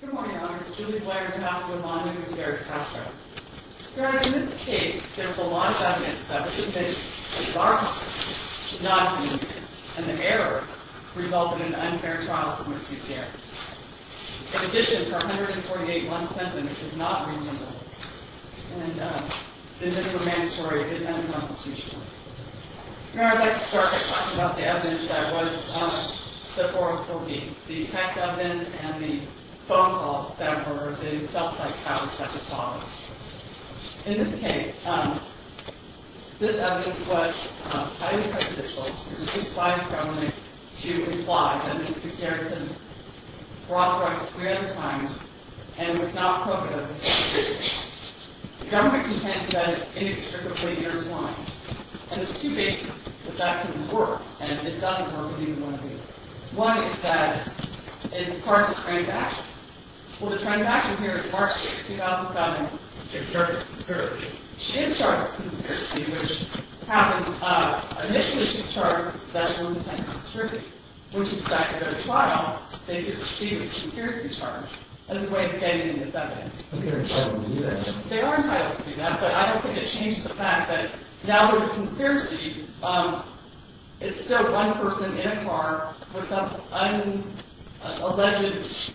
Good morning, Honors. Julie Blair, Yolanda Gutierrez-Castro. Your Honor, in this case, there is a large evidence that the participation of Barclays should not have been an error resulting in an unfair trial for Mrs. Gutierrez. In addition, her 148-1 sentence is not reasonable. And the individual mandatory is unconstitutional. Your Honor, I'd like to start by talking about the evidence that was on the forum for me, the tax evidence and the phone calls that were in self-tax houses at the time. In this case, this evidence was highly prejudicial. It was justified in front of me to imply that Mrs. Gutierrez had been authorized three other times and was not qualified as a candidate. The government contends that it is inextricably intertwined. And there's two bases that that could work. And if it doesn't work, what do you want to do? One is that it's part of the transaction. Well, the transaction here is March 6, 2007. She was charged with conspiracy. She is charged with conspiracy, which happens. Initially, she was charged with a sexual intent of conspiracy, which is that at a trial, they should receive a conspiracy charge as a way of gaining this evidence. I don't think they were entitled to do that. They were entitled to do that. But I don't think it changed the fact that now there's a conspiracy. It's still one person in a car with some unalleged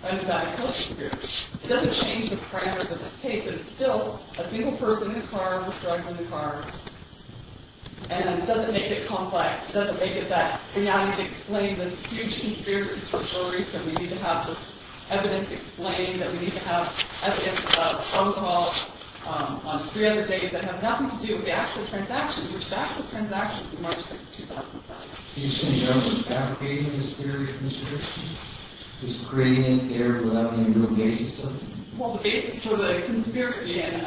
undiagnosed conspiracy. It doesn't change the parameters of this case. But it's still a single person in a car with drugs in the car. And it doesn't make it complex. It doesn't make it that we now need to explain this huge conspiracy to the jury. So we need to have this evidence explained, that we need to have evidence of phone calls on three other days that have nothing to do with the actual transactions, which the actual transaction was March 6, 2007. So you're saying you're not creating this theory of conspiracy? Just creating it there without having a real basis of it? Well, the basis for the conspiracy and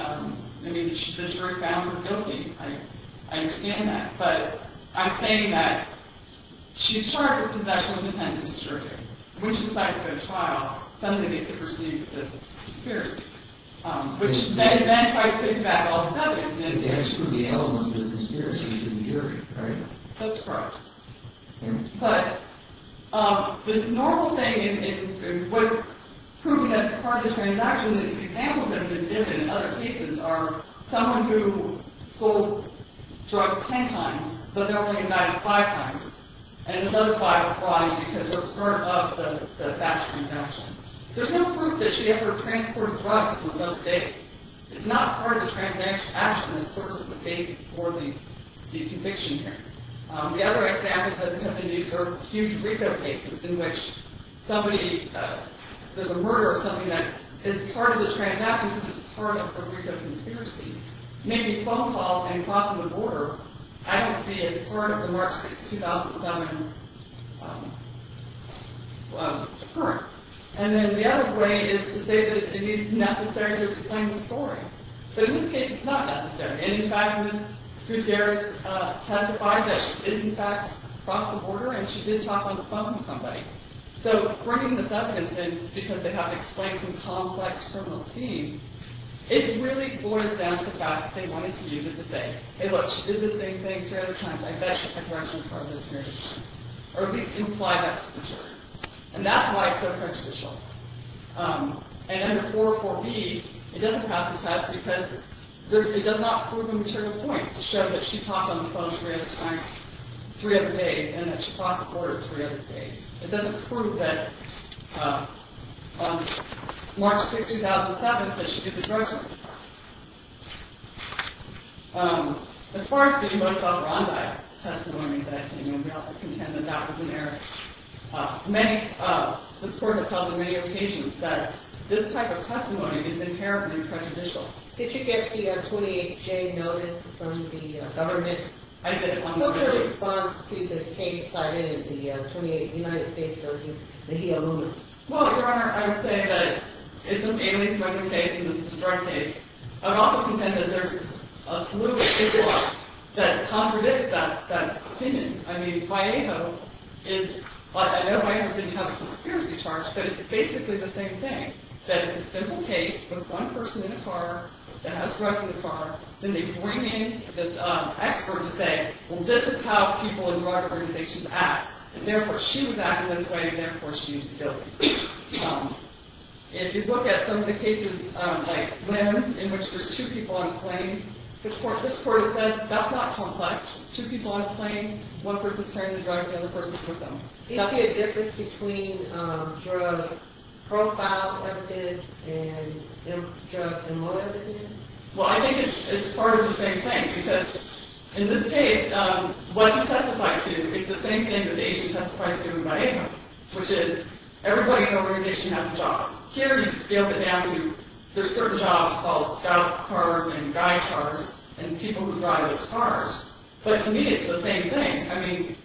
the jury found her guilty. I understand that. But I'm saying that she's charged with possession of a potential disturbing. When she decides to go to trial, something needs to proceed with this conspiracy. Which may then try to take back all the evidence. And then exclude the elements of the conspiracy from the jury, right? That's correct. But the normal thing in proving that it's part of the transaction, the examples that have been given in other cases are someone who sold drugs 10 times, but they're only denied it five times. And the other five are fraud because they're part of the fax transaction. There's no proof that she ever transported drugs that was not fakes. It's not part of the transaction that serves as the basis for the conviction here. The other examples that have been used are huge retail cases in which somebody, there's a murder or something that is part of the transaction because it's part of her retail conspiracy. Maybe phone calls and crossing the border happens to be as part of the March 6, 2007 occurrence. And then the other way is to say that it is necessary to explain the story. But in this case, it's not necessary. And in fact, Cruz-Guerras testified that she did, in fact, cross the border and she did talk on the phone with somebody. So bringing this evidence in, because they have explained some complex criminal schemes, it really boils down to the fact that they wanted to use it to say, hey, look, she did the same thing three other times. I bet you it's a correction part of this marriage. Or at least imply that to the jury. And that's why it's so prejudicial. And then the 404B, it doesn't have the test because it does not prove a material point to show that she talked on the phone three other times, three other days, and that she crossed the border three other days. It doesn't prove that on March 6, 2007 that she did the same thing. As far as the U.S. operandi testimony, we also contend that that was an error. This court has held on many occasions that this type of testimony is inherently prejudicial. Did you get the 28-J notice from the government? I did, on Wednesday. What was your response to the case cited in the 28 United States Doses that he alluded to? Well, Your Honor, I would say that it's a family-specific case and this is a drug case. I would also contend that there's a salubrious case that contradicts that opinion. I mean, Vallejo is, I know Vallejo didn't have a conspiracy charge, but it's basically the same thing. That it's a simple case with one person in a car that has drugs in the car, then they bring in this expert to say, well, this is how people in drug organizations act. And therefore, she was acting this way and therefore, she used ability. If you look at some of the cases like Lynn, in which there's two people on a plane, this court has said that's not complex. It's two people on a plane, one person's carrying the drugs, the other person's with them. Is there a difference between drug profile evidence and drug and motive evidence? Well, I think it's part of the same thing because in this case, what you testify to is the same thing that the agent testifies to in Vallejo, which is everybody in the organization has a job. Here, you scale it down to there's certain jobs called scout cars and guide cars and people who drive those cars. But to me, it's the same thing. I mean,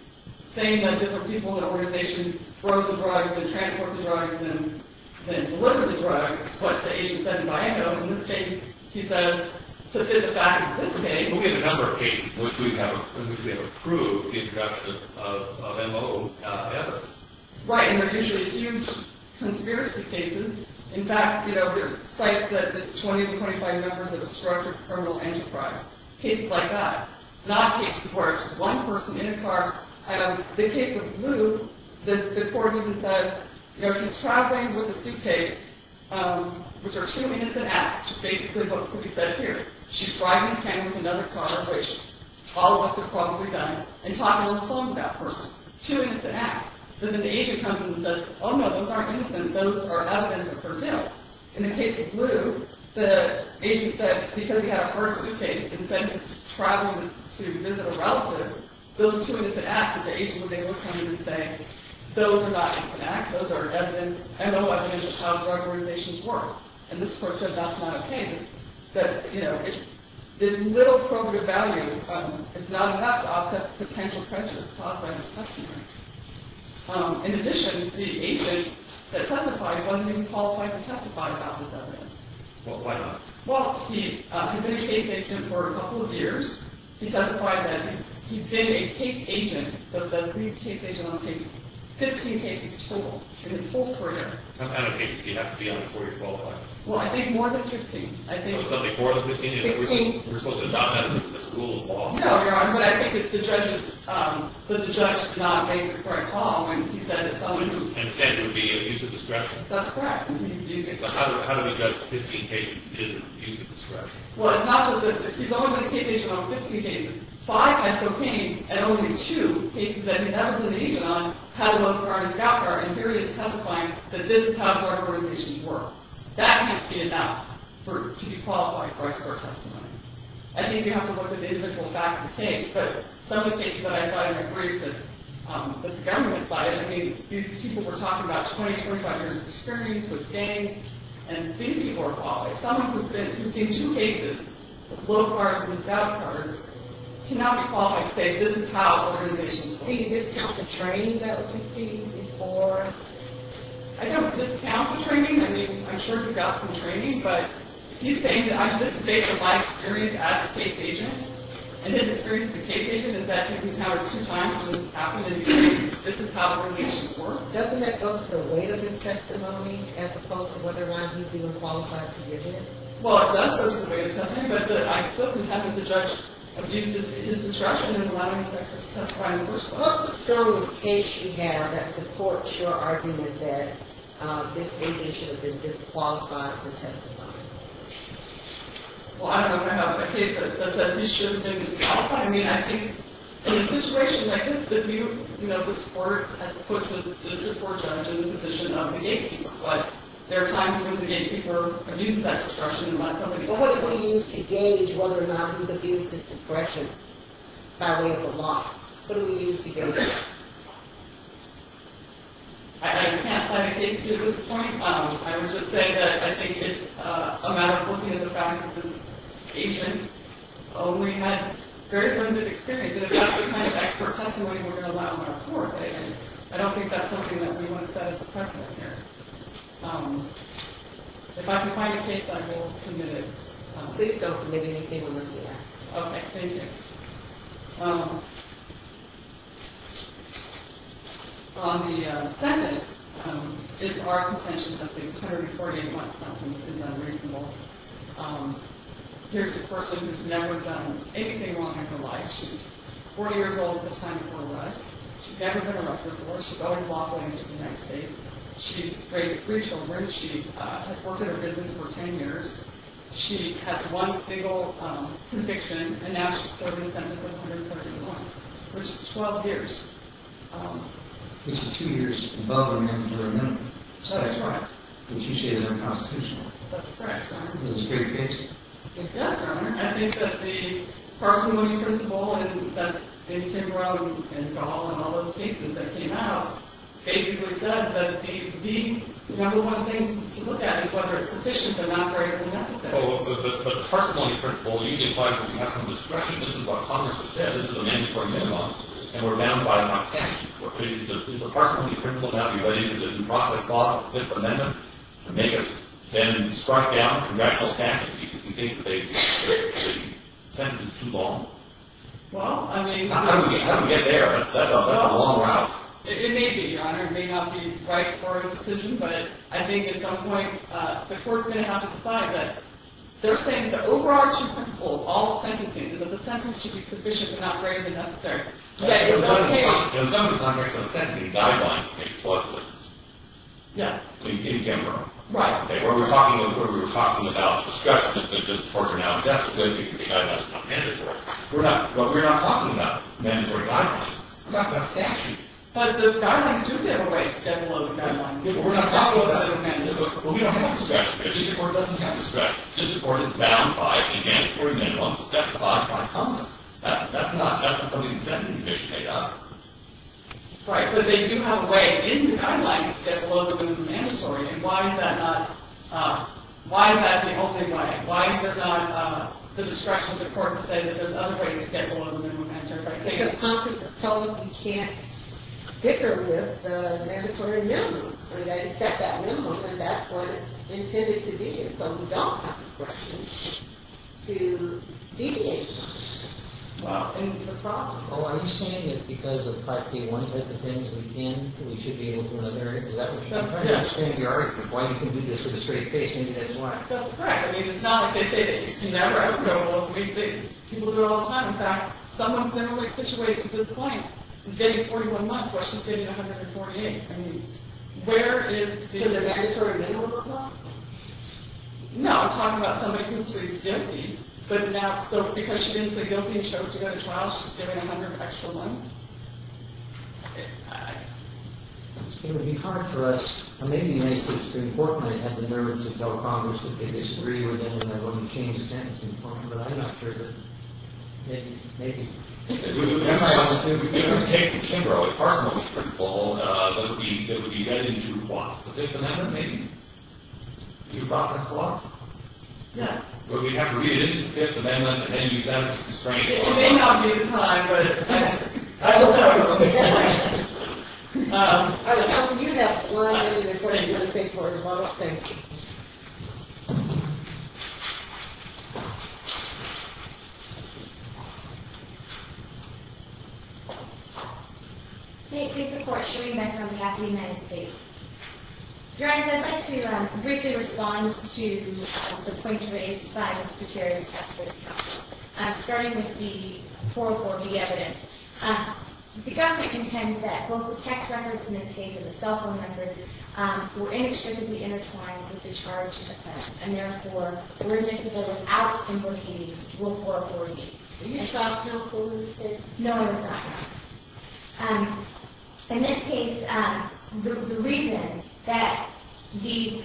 saying that different people in the organization drove the drugs and transported the drugs and then delivered the drugs is what the agent said in Vallejo. In this case, he says, so if in fact, in this case... We have a number of cases in which we have approved the introduction of MO evidence. Right, and they're usually huge conspiracy cases. In fact, there are sites that it's 20 to 25 members of a structured criminal enterprise. Cases like that. Not cases where it's just one person in a car. In the case of Lou, the court even says, you know, he's traveling with a suitcase, which are two innocent acts, which is basically what could be said here. She's driving him with another car, which all of us have probably done, and talking on the phone with that person. Two innocent acts. Then the agent comes in and says, oh, no, those aren't innocent. Those are evidence of her guilt. In the case of Lou, the agent said, because he had a car suitcase and sent him traveling to visit a relative, those are two innocent acts. But the agent was able to come in and say, those are not innocent acts. Those are evidence, MO evidence, of how drug organizations work. And this court said that's not okay. That, you know, there's little probative value. It's not enough to offset potential pressures caused by this customer. In addition, the agent that testified wasn't even qualified to testify about this evidence. Well, why not? Well, he'd been a case agent for a couple of years. He testified that he'd been a case agent, the lead case agent on case, 15 cases total in his full career. How many cases do you have to be on before you're qualified? Well, I think more than 15. Something more than 15? We're supposed to not have this rule of law. No, Your Honor, but I think it's the judge's, but the judge did not make the correct call when he said that someone who... And said it would be an abuse of discretion. That's correct, an abuse of discretion. So how do we judge 15 cases as an abuse of discretion? Well, it's not that the... He's only been a case agent on 15 cases. Five times cocaine, and only two cases that he's never been an agent on had an unauthorized safeguard, and here he is testifying that this is how drug organizations work. That can't be enough to be qualified for a court testimony. I think you have to look at the individual facts of the case, but some of the cases that I've gotten in my briefs that the government has cited, I mean, people were talking about 20, 25 years of experience with gangs, and these people are qualified. Someone who's seen two cases with low cars and without cars cannot be qualified to say, this is how organizations work. Do you discount the training that was received before? I don't discount the training. I mean, I'm sure he got some training, but he's saying that, this is based on my experience as a case agent, and his experience as a case agent is that he's empowered two times to say this is how organizations work. Doesn't that go to the weight of his testimony as opposed to whether or not he's even qualified to give it? Well, it does go to the weight of testimony, but I still haven't had the judge abuse his discretion in allowing his exes to testify. What's the strongest case you have that supports your argument that this agent should have been disqualified for testifying? Well, I don't know if I have a case that says that he should have been disqualified. I mean, I think, in a situation like this, this court has put the district court judge in the position of the gatekeeper, but there are times when the gatekeeper abuses that discretion and lets somebody else... Well, what do we use to gauge whether or not he's abused his discretion by way of a law? What do we use to gauge that? I can't cite a case to this point. I would just say that I think it's a matter of the fact that this agent only had very limited experience, and that's the kind of expert testimony we're going to allow in our court, and I don't think that's something that we want to set as a precedent here. If I can find a case that I hold committed... Please don't believe anything we're saying. On the sentence, it's our contention that the attorney wants something that is unreasonable. Here's a person who's never done anything wrong in her life. She's 40 years old at the time of her arrest. She's never been arrested before. She's always lawfully in the United States. She's raised three children. She has worked in her business for 10 years. She has one single conviction, and now she's serving a sentence of 131, which is 12 years. Which is two years above her mandatory minimum. That's right. That's correct, Your Honor. Yes, Your Honor. I think that the parsimony principle, and that's Indy Kimbrough and Dahl and all those cases that came out, basically said that the number one thing to look at is whether it's sufficient but not very necessary. But the parsimony principle, you decide that you have some discretion. This is what Congress has said. This is a mandatory minimum, and we're bound by it by statute. Is the parsimony principle not related to the new profit clause of the Fifth Amendment to make us then strut down congressional cases because we think the sentence is too long? Well, I mean... How do we get there? That's a long route. It may be, Your Honor. It may not be right for a decision, but I think at some point, the court's going to have to decide that. They're saying the overarching principle of all sentencing is that the sentence should be sufficient but not greater than necessary. In some of the Congressional sentencing, guidelines make political difference. Yes. In general. Right. Where we were talking about discretion is that the courts are now testifying because the guidelines are mandatory. But we're not talking about mandatory guidelines. We're talking about statutes. But the guidelines do give away several other guidelines. Yes, but we're not talking about other mandatory guidelines. Well, we don't have discretion because the district court doesn't have discretion. The district court is bound by and mandatory minimums specified by Congress. That's not necessarily a sentencing issue, Your Honor. Right, but they do have a way in the guidelines to get below the minimum mandatory. Why is that not... Why is that the only way? Why is it not the discretion of the court to say that there's other ways to get below the minimum mandatory? Because Congress has told us we can't dicker with the mandatory minimum. They set that minimum and that's what it's intended to be. So we don't have discretion to deviate from that. Well, and the problem... Oh, are you saying that because of 5K1 has the things we can that we should be able to in other areas? Is that what you're saying? I understand your argument of why you can do this with a straight face and you didn't want to. That's correct. I mean, it's not like they say that you can never ever go with what people do all the time. In fact, someone's never really situated to this point. He's getting 41 months while she's getting 148. I mean, where is the... Is it mandatory minimums as well? No, I'm talking about somebody who pleads guilty. So because she didn't plead guilty and chose to go to trial, she's getting 100 extra months? It would be hard for us. Maybe the United States could importantly have the nerve to tell Congress that they disagree with it and they're going to change the sentence in court. But I'm not sure that... Maybe. Maybe. It would be hard for them to do it. It would be hard for them to be fruitful. But it would be heading to what? The Fifth Amendment? The Fifth Amendment, maybe. Do you process the law? No. But we'd have to read it in the Fifth Amendment and use that as a constraint. It may not be the time, but... I will tell you when the time is. All right. We'll give you that slide when we get to the court and you can look at it for tomorrow. Thank you. May it please the Court show we met from the happy United States. Your Honor, I'd like to briefly respond to the point raised by Mr. Chair in his first comment. Starting with the 404B evidence. The government contends that both the text records in this case and the cell phone records were inextricably intertwined with the charge of offense. And therefore, we're admissible without importing Rule 404B. Were you involved in those cases? No, I was not. In this case, the reason that the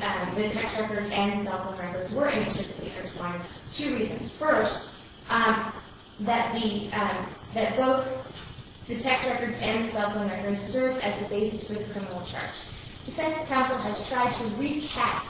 text records and the cell phone records were inextricably intertwined, two reasons. First, that the... that both the text records and the cell phone records served as the basis for the criminal charge. Defense counsel has tried to recap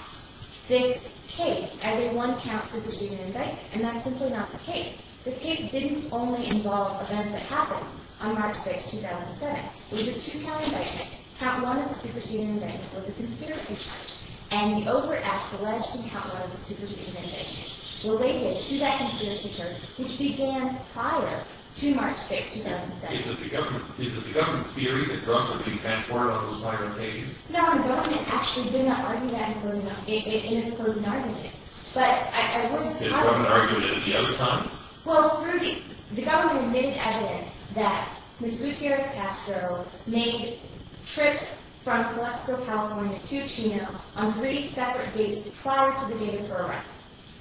this case as a one-counsel proceeding indictment, and that's simply not the case. This case didn't only involve events that happened on March 6, 2007. It was a two-counsel indictment. Count one of the superseding indictment was a conspiracy charge, and he overacts alleging Count One was a superseding indictment related to that conspiracy charge, which began prior to March 6, 2007. Is it the government's... Is it the government's theory that drugs are being transported on those violent occasions? No, the government actually did not argue that in closing... in its closing argument. But I... It wasn't argued at the other time? Well, through the... the government admitted evidence that Ms. Gutierrez Castro made trips from Colesco, California to Chino on three separate dates prior to the date of her arrest.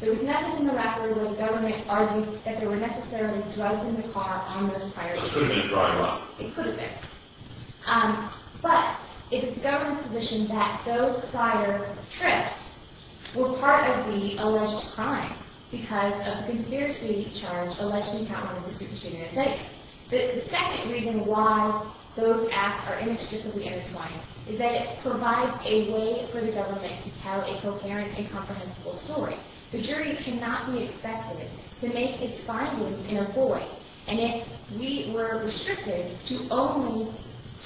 There was nothing in the record where the government argued that there were necessarily drugs in the car on those prior trips. So it could have been a crime, right? It could have been. But it is the government's position that those prior trips were part of the alleged crime because of the conspiracy charge allegedly Count One was a superseding indictment. The second reason why those acts are inextricably intertwined is that it provides a way for the government to tell a coherent and comprehensible story. The jury cannot be expected to make its findings in a void. And if we were restricted to only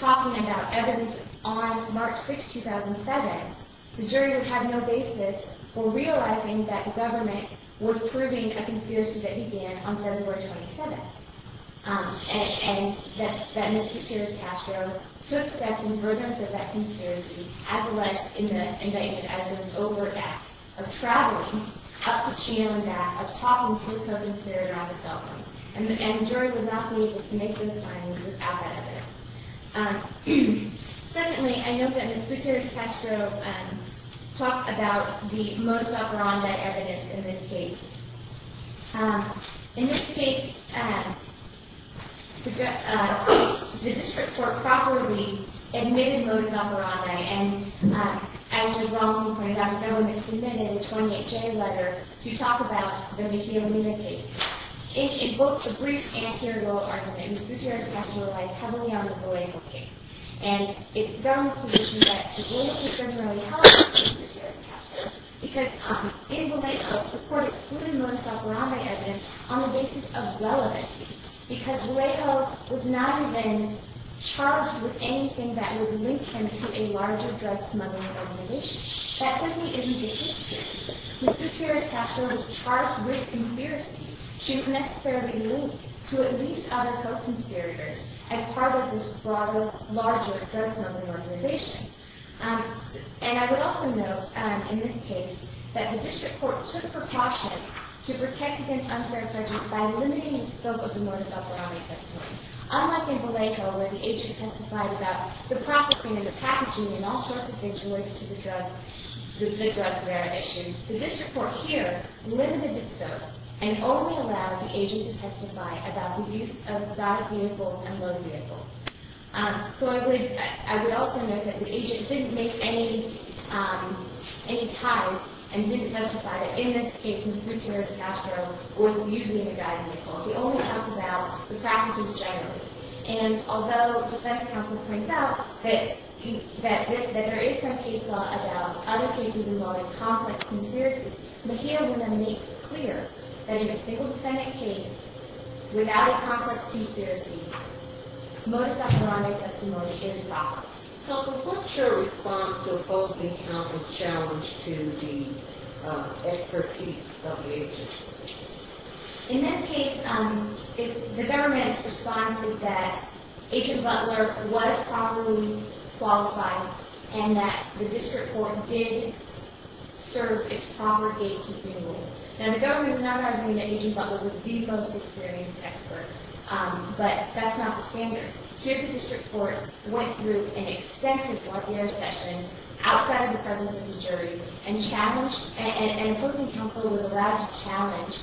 talking about evidence on March 6, 2007, the jury would have no basis for realizing that the government was proving a conspiracy that began on February 27th and... and that Ms. Gutierrez-Castro took steps in regard to that conspiracy as alleged in the indictment as an overt act of traveling up to Chino and back of talking to the co-conspirator on the cell phone. And the jury would not be able to make those findings without that evidence. Secondly, I note that Ms. Gutierrez-Castro talked about the most upfront evidence in this case. In this case, the district court improperly admitted Modesto-Aranda and, as Ms. Robinson pointed out, the government submitted a 28-J letter to talk about the vehemence case. It invoked a brief anterior argument in which Ms. Gutierrez-Castro relies heavily on the Vallejo case. And it's the government's position that the Vallejo case doesn't really help Ms. Gutierrez-Castro because in Vallejo, the court excluded Modesto-Aranda evidence on the basis of relevancy because Vallejo was not even charged with anything that would link him to a larger drug smuggling organization. That simply isn't the case here. Ms. Gutierrez-Castro was charged with conspiracy. She was necessarily linked to at least other co-conspirators as part of this larger drug smuggling organization. And I would also note in this case that the district court took precaution to protect against unfair prejudice by limiting the scope of Modesto-Aranda testimony. Unlike in Vallejo where the agent testified about the processing and the packaging and all sorts of things related to the drug issues, the district court here limited the scope and only allowed the agent to testify about the use of guided vehicles and loaded vehicles. So I would also note that the agent didn't make any ties and didn't testify that in this case Ms. Gutierrez-Castro was using the guided vehicle. She only talked about the practices generally. And although defense counsel points out that there is some case law about other cases involving complex conspiracies, Mejia would then make clear that in a single defendant case without a complex conspiracy Modesto-Aranda testimony is valid. So what's your response to opposing counsel's challenge to the expertise of the agent? In this case the government responded that Agent Butler was properly qualified and that the agent served its proper gatekeeping role. Now the government is not arguing that Agent Butler was the most experienced expert. But that's not the standard. Here the district court went through an extensive court session outside of the presence of the jury and challenged and opposing counsel was allowed to challenge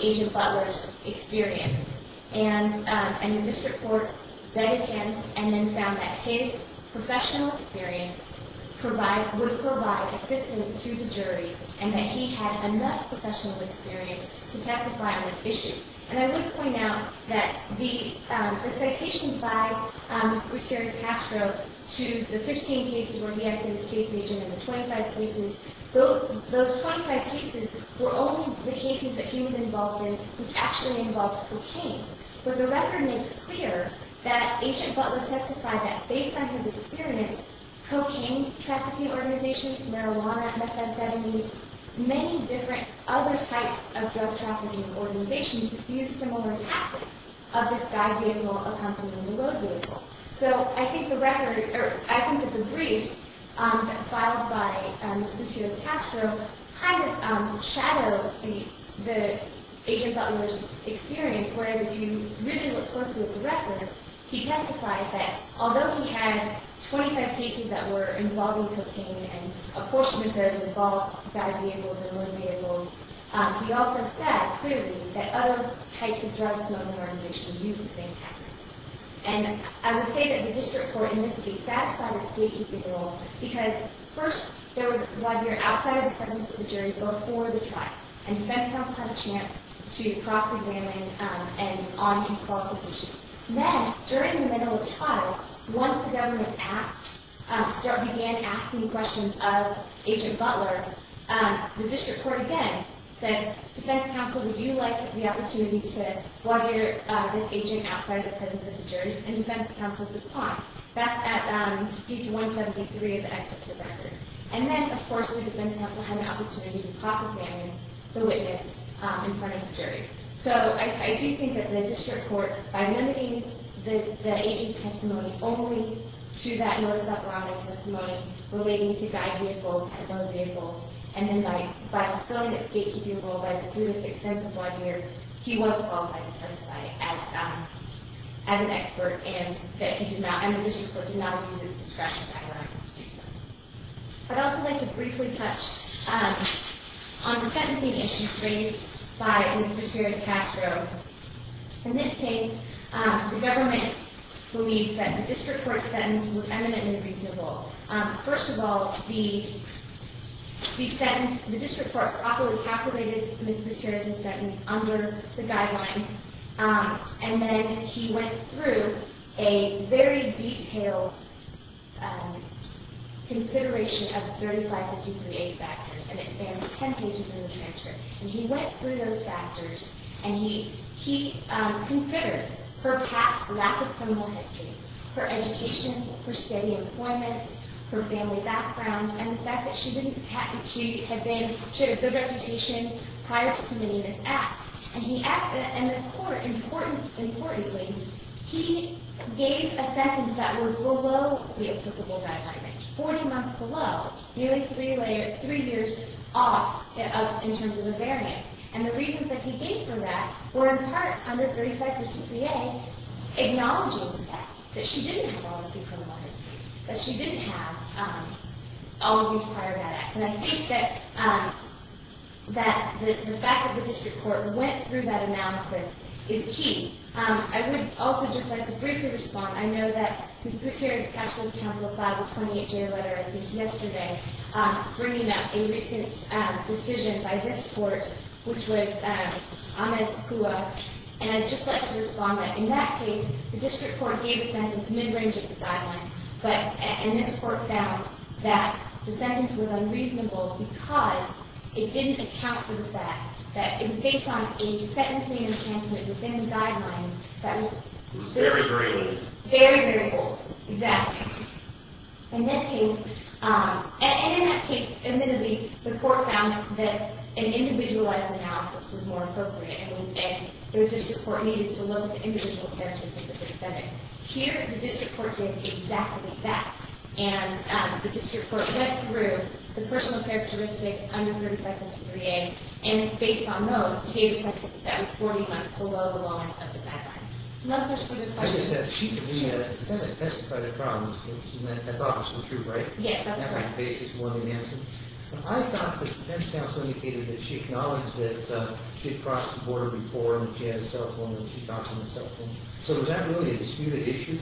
Agent Butler's professional experience. And the district court vetted him and then found that his professional experience would provide assistance to the jury and that he had enough professional experience to testify on this issue. And I would point out that the citations by Mr. Gutierrez-Pastro to the 15 cases where he acted as case agent and the 25 cases, those were all about cocaine. But the record makes clear that Agent Butler testified that based on his experience, cocaine trafficking organizations, marijuana, methadone, many different other types of drug trafficking organizations used similar tactics of this guy vehicle accompanying the road vehicle. So I think that the briefs filed by Mr. Gutierrez-Pastro and his experience, where you really look closely at the record, he testified that although he had 25 cases that were involving cocaine and a portion of those involved guy vehicles and road vehicles, he also said clearly that other types of drug smoking organizations used the same tactics. And I would say that the district court in this case satisfied its role because first, there was a lawyer outside of the presence of the jury before the trial and defense counsel had a chance to cross examine on his qualifications. Then, during the middle of trial, once the defense counsel had an opportunity to cross examine the witness in front of the jury. So, I do think that the district court, by limiting the agent's testimony only to that notice out loud of testimony relating to guy vehicles and road vehicles, and then by fulfilling the agency of the district court to the extent that he was qualified to testify as an expert and that the district court did not use discretion guidelines to do so. I'd also like to briefly touch on the fact that district court did not use discretion guidelines to do so. And then, he went through a very detailed consideration of 3553A factors and it spans 10 pages in the transcript. And he went through all of those factors prior to submitting this act. And importantly, he gave a sentence that was below the applicable guidelines, 40 months below, nearly three years off in terms of the variance. And the reasons that he gave for that were in part under his discretion. And I think that the fact that the district court went through that analysis is key. I would also just like to briefly respond. I know that Mr. Gutierrez brought up a recent decision by this in relation to the guidelines. And this court found that the sentence was unreasonable because it didn't account for the fact that it was based on a sentencing enhancement within the guidelines that was very very old. Exactly. And in that case, admittedly, the court found that an individualized analysis was more appropriate and the district court needed to look at the individual characteristics of the defendant. Here, the district court did exactly that. And the district court went through the personal characteristics under 3533A and based on those, gave a sentence that was 40 months below the law of the guidelines. Another disputed question. I thought the defense counsel indicated that she acknowledged that she had crossed the border before and that she had a cell phone and she got from the cell phone. So was that really a disputed issue?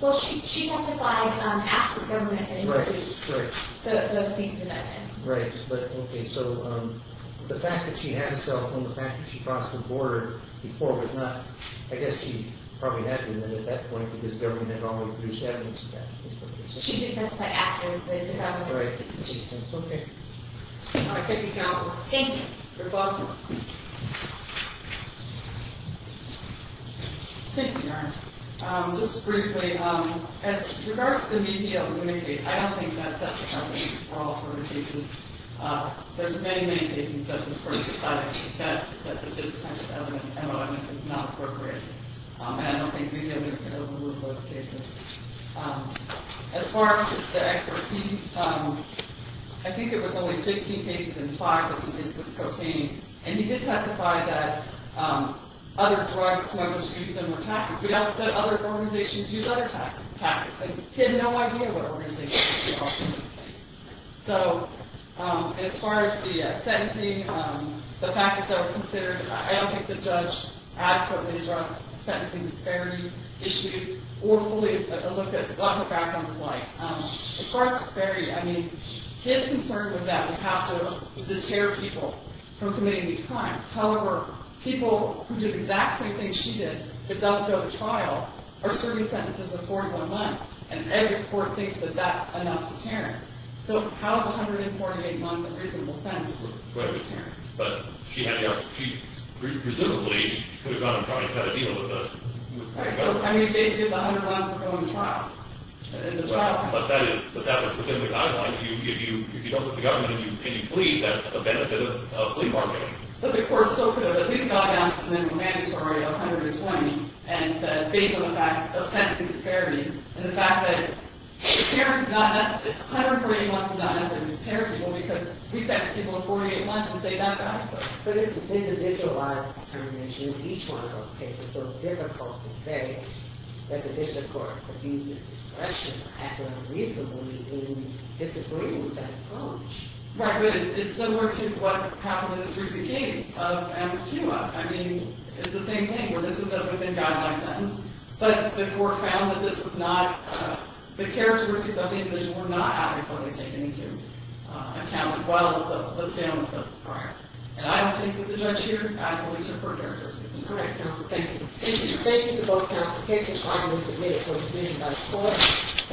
Well, she testified after the government had introduced the police guidelines. Right. Okay. So the fact that she had a cell phone, the fact that she crossed the border before was not, I guess, she probably had been at that point because the government had already produced evidence of that. She did testify after the government had introduced the police guidelines. Okay. All right. Thank you, Counselor. Thank you. You're welcome. Thank you, Your Honor. Just briefly, as regards to media limitation, I don't think that's a problem for all court cases. There's many, many cases that this court decided that this kind of evidence is not appropriate. And I don't think media limitation can overrule those cases. As far as the expertise, I think it was only 15 cases in five that he did with cocaine. And he did testify that other drugs smugglers use similar tactics. We also said other organizations use other tactics. He had no idea what organizations were using in this case. So, as far as the sentencing, the factors that were considered, I don't think the judge adequately addressed sentencing disparity issues or fully looked at what her background was like. As far as disparity, I mean, his concern was that we have to deter people from committing these crimes. However, people who did exactly the things she did but don't go to trial are serving sentences of 41 months and every court thinks that that's enough to deter them. So, how is 148 months of reasonable sentence going to deter them? But, she presumably could have gone and tried to deal with that. I mean, basically, it's 100 months before going to trial. But, that's within the guidelines. If you don't go to the government and you plead, that's a benefit of plea bargaining. But, of course, these guidelines are mandatory of 120 and based on the fact of sentencing disparity and the fact that it's difficult to say that the division of court could use this discretion reasonably in disagreeing with that approach. Right, but it's similar to what happened in this recent case of Amos Puma. I mean, it's the same thing where this was a within guidelines sentence, but the court found that this was not, the characteristics of the individual were not adequately taken into account as well as the list down list of the prior. And I don't think that the judge here adequately took her characteristics into account. Thank you. Thank you.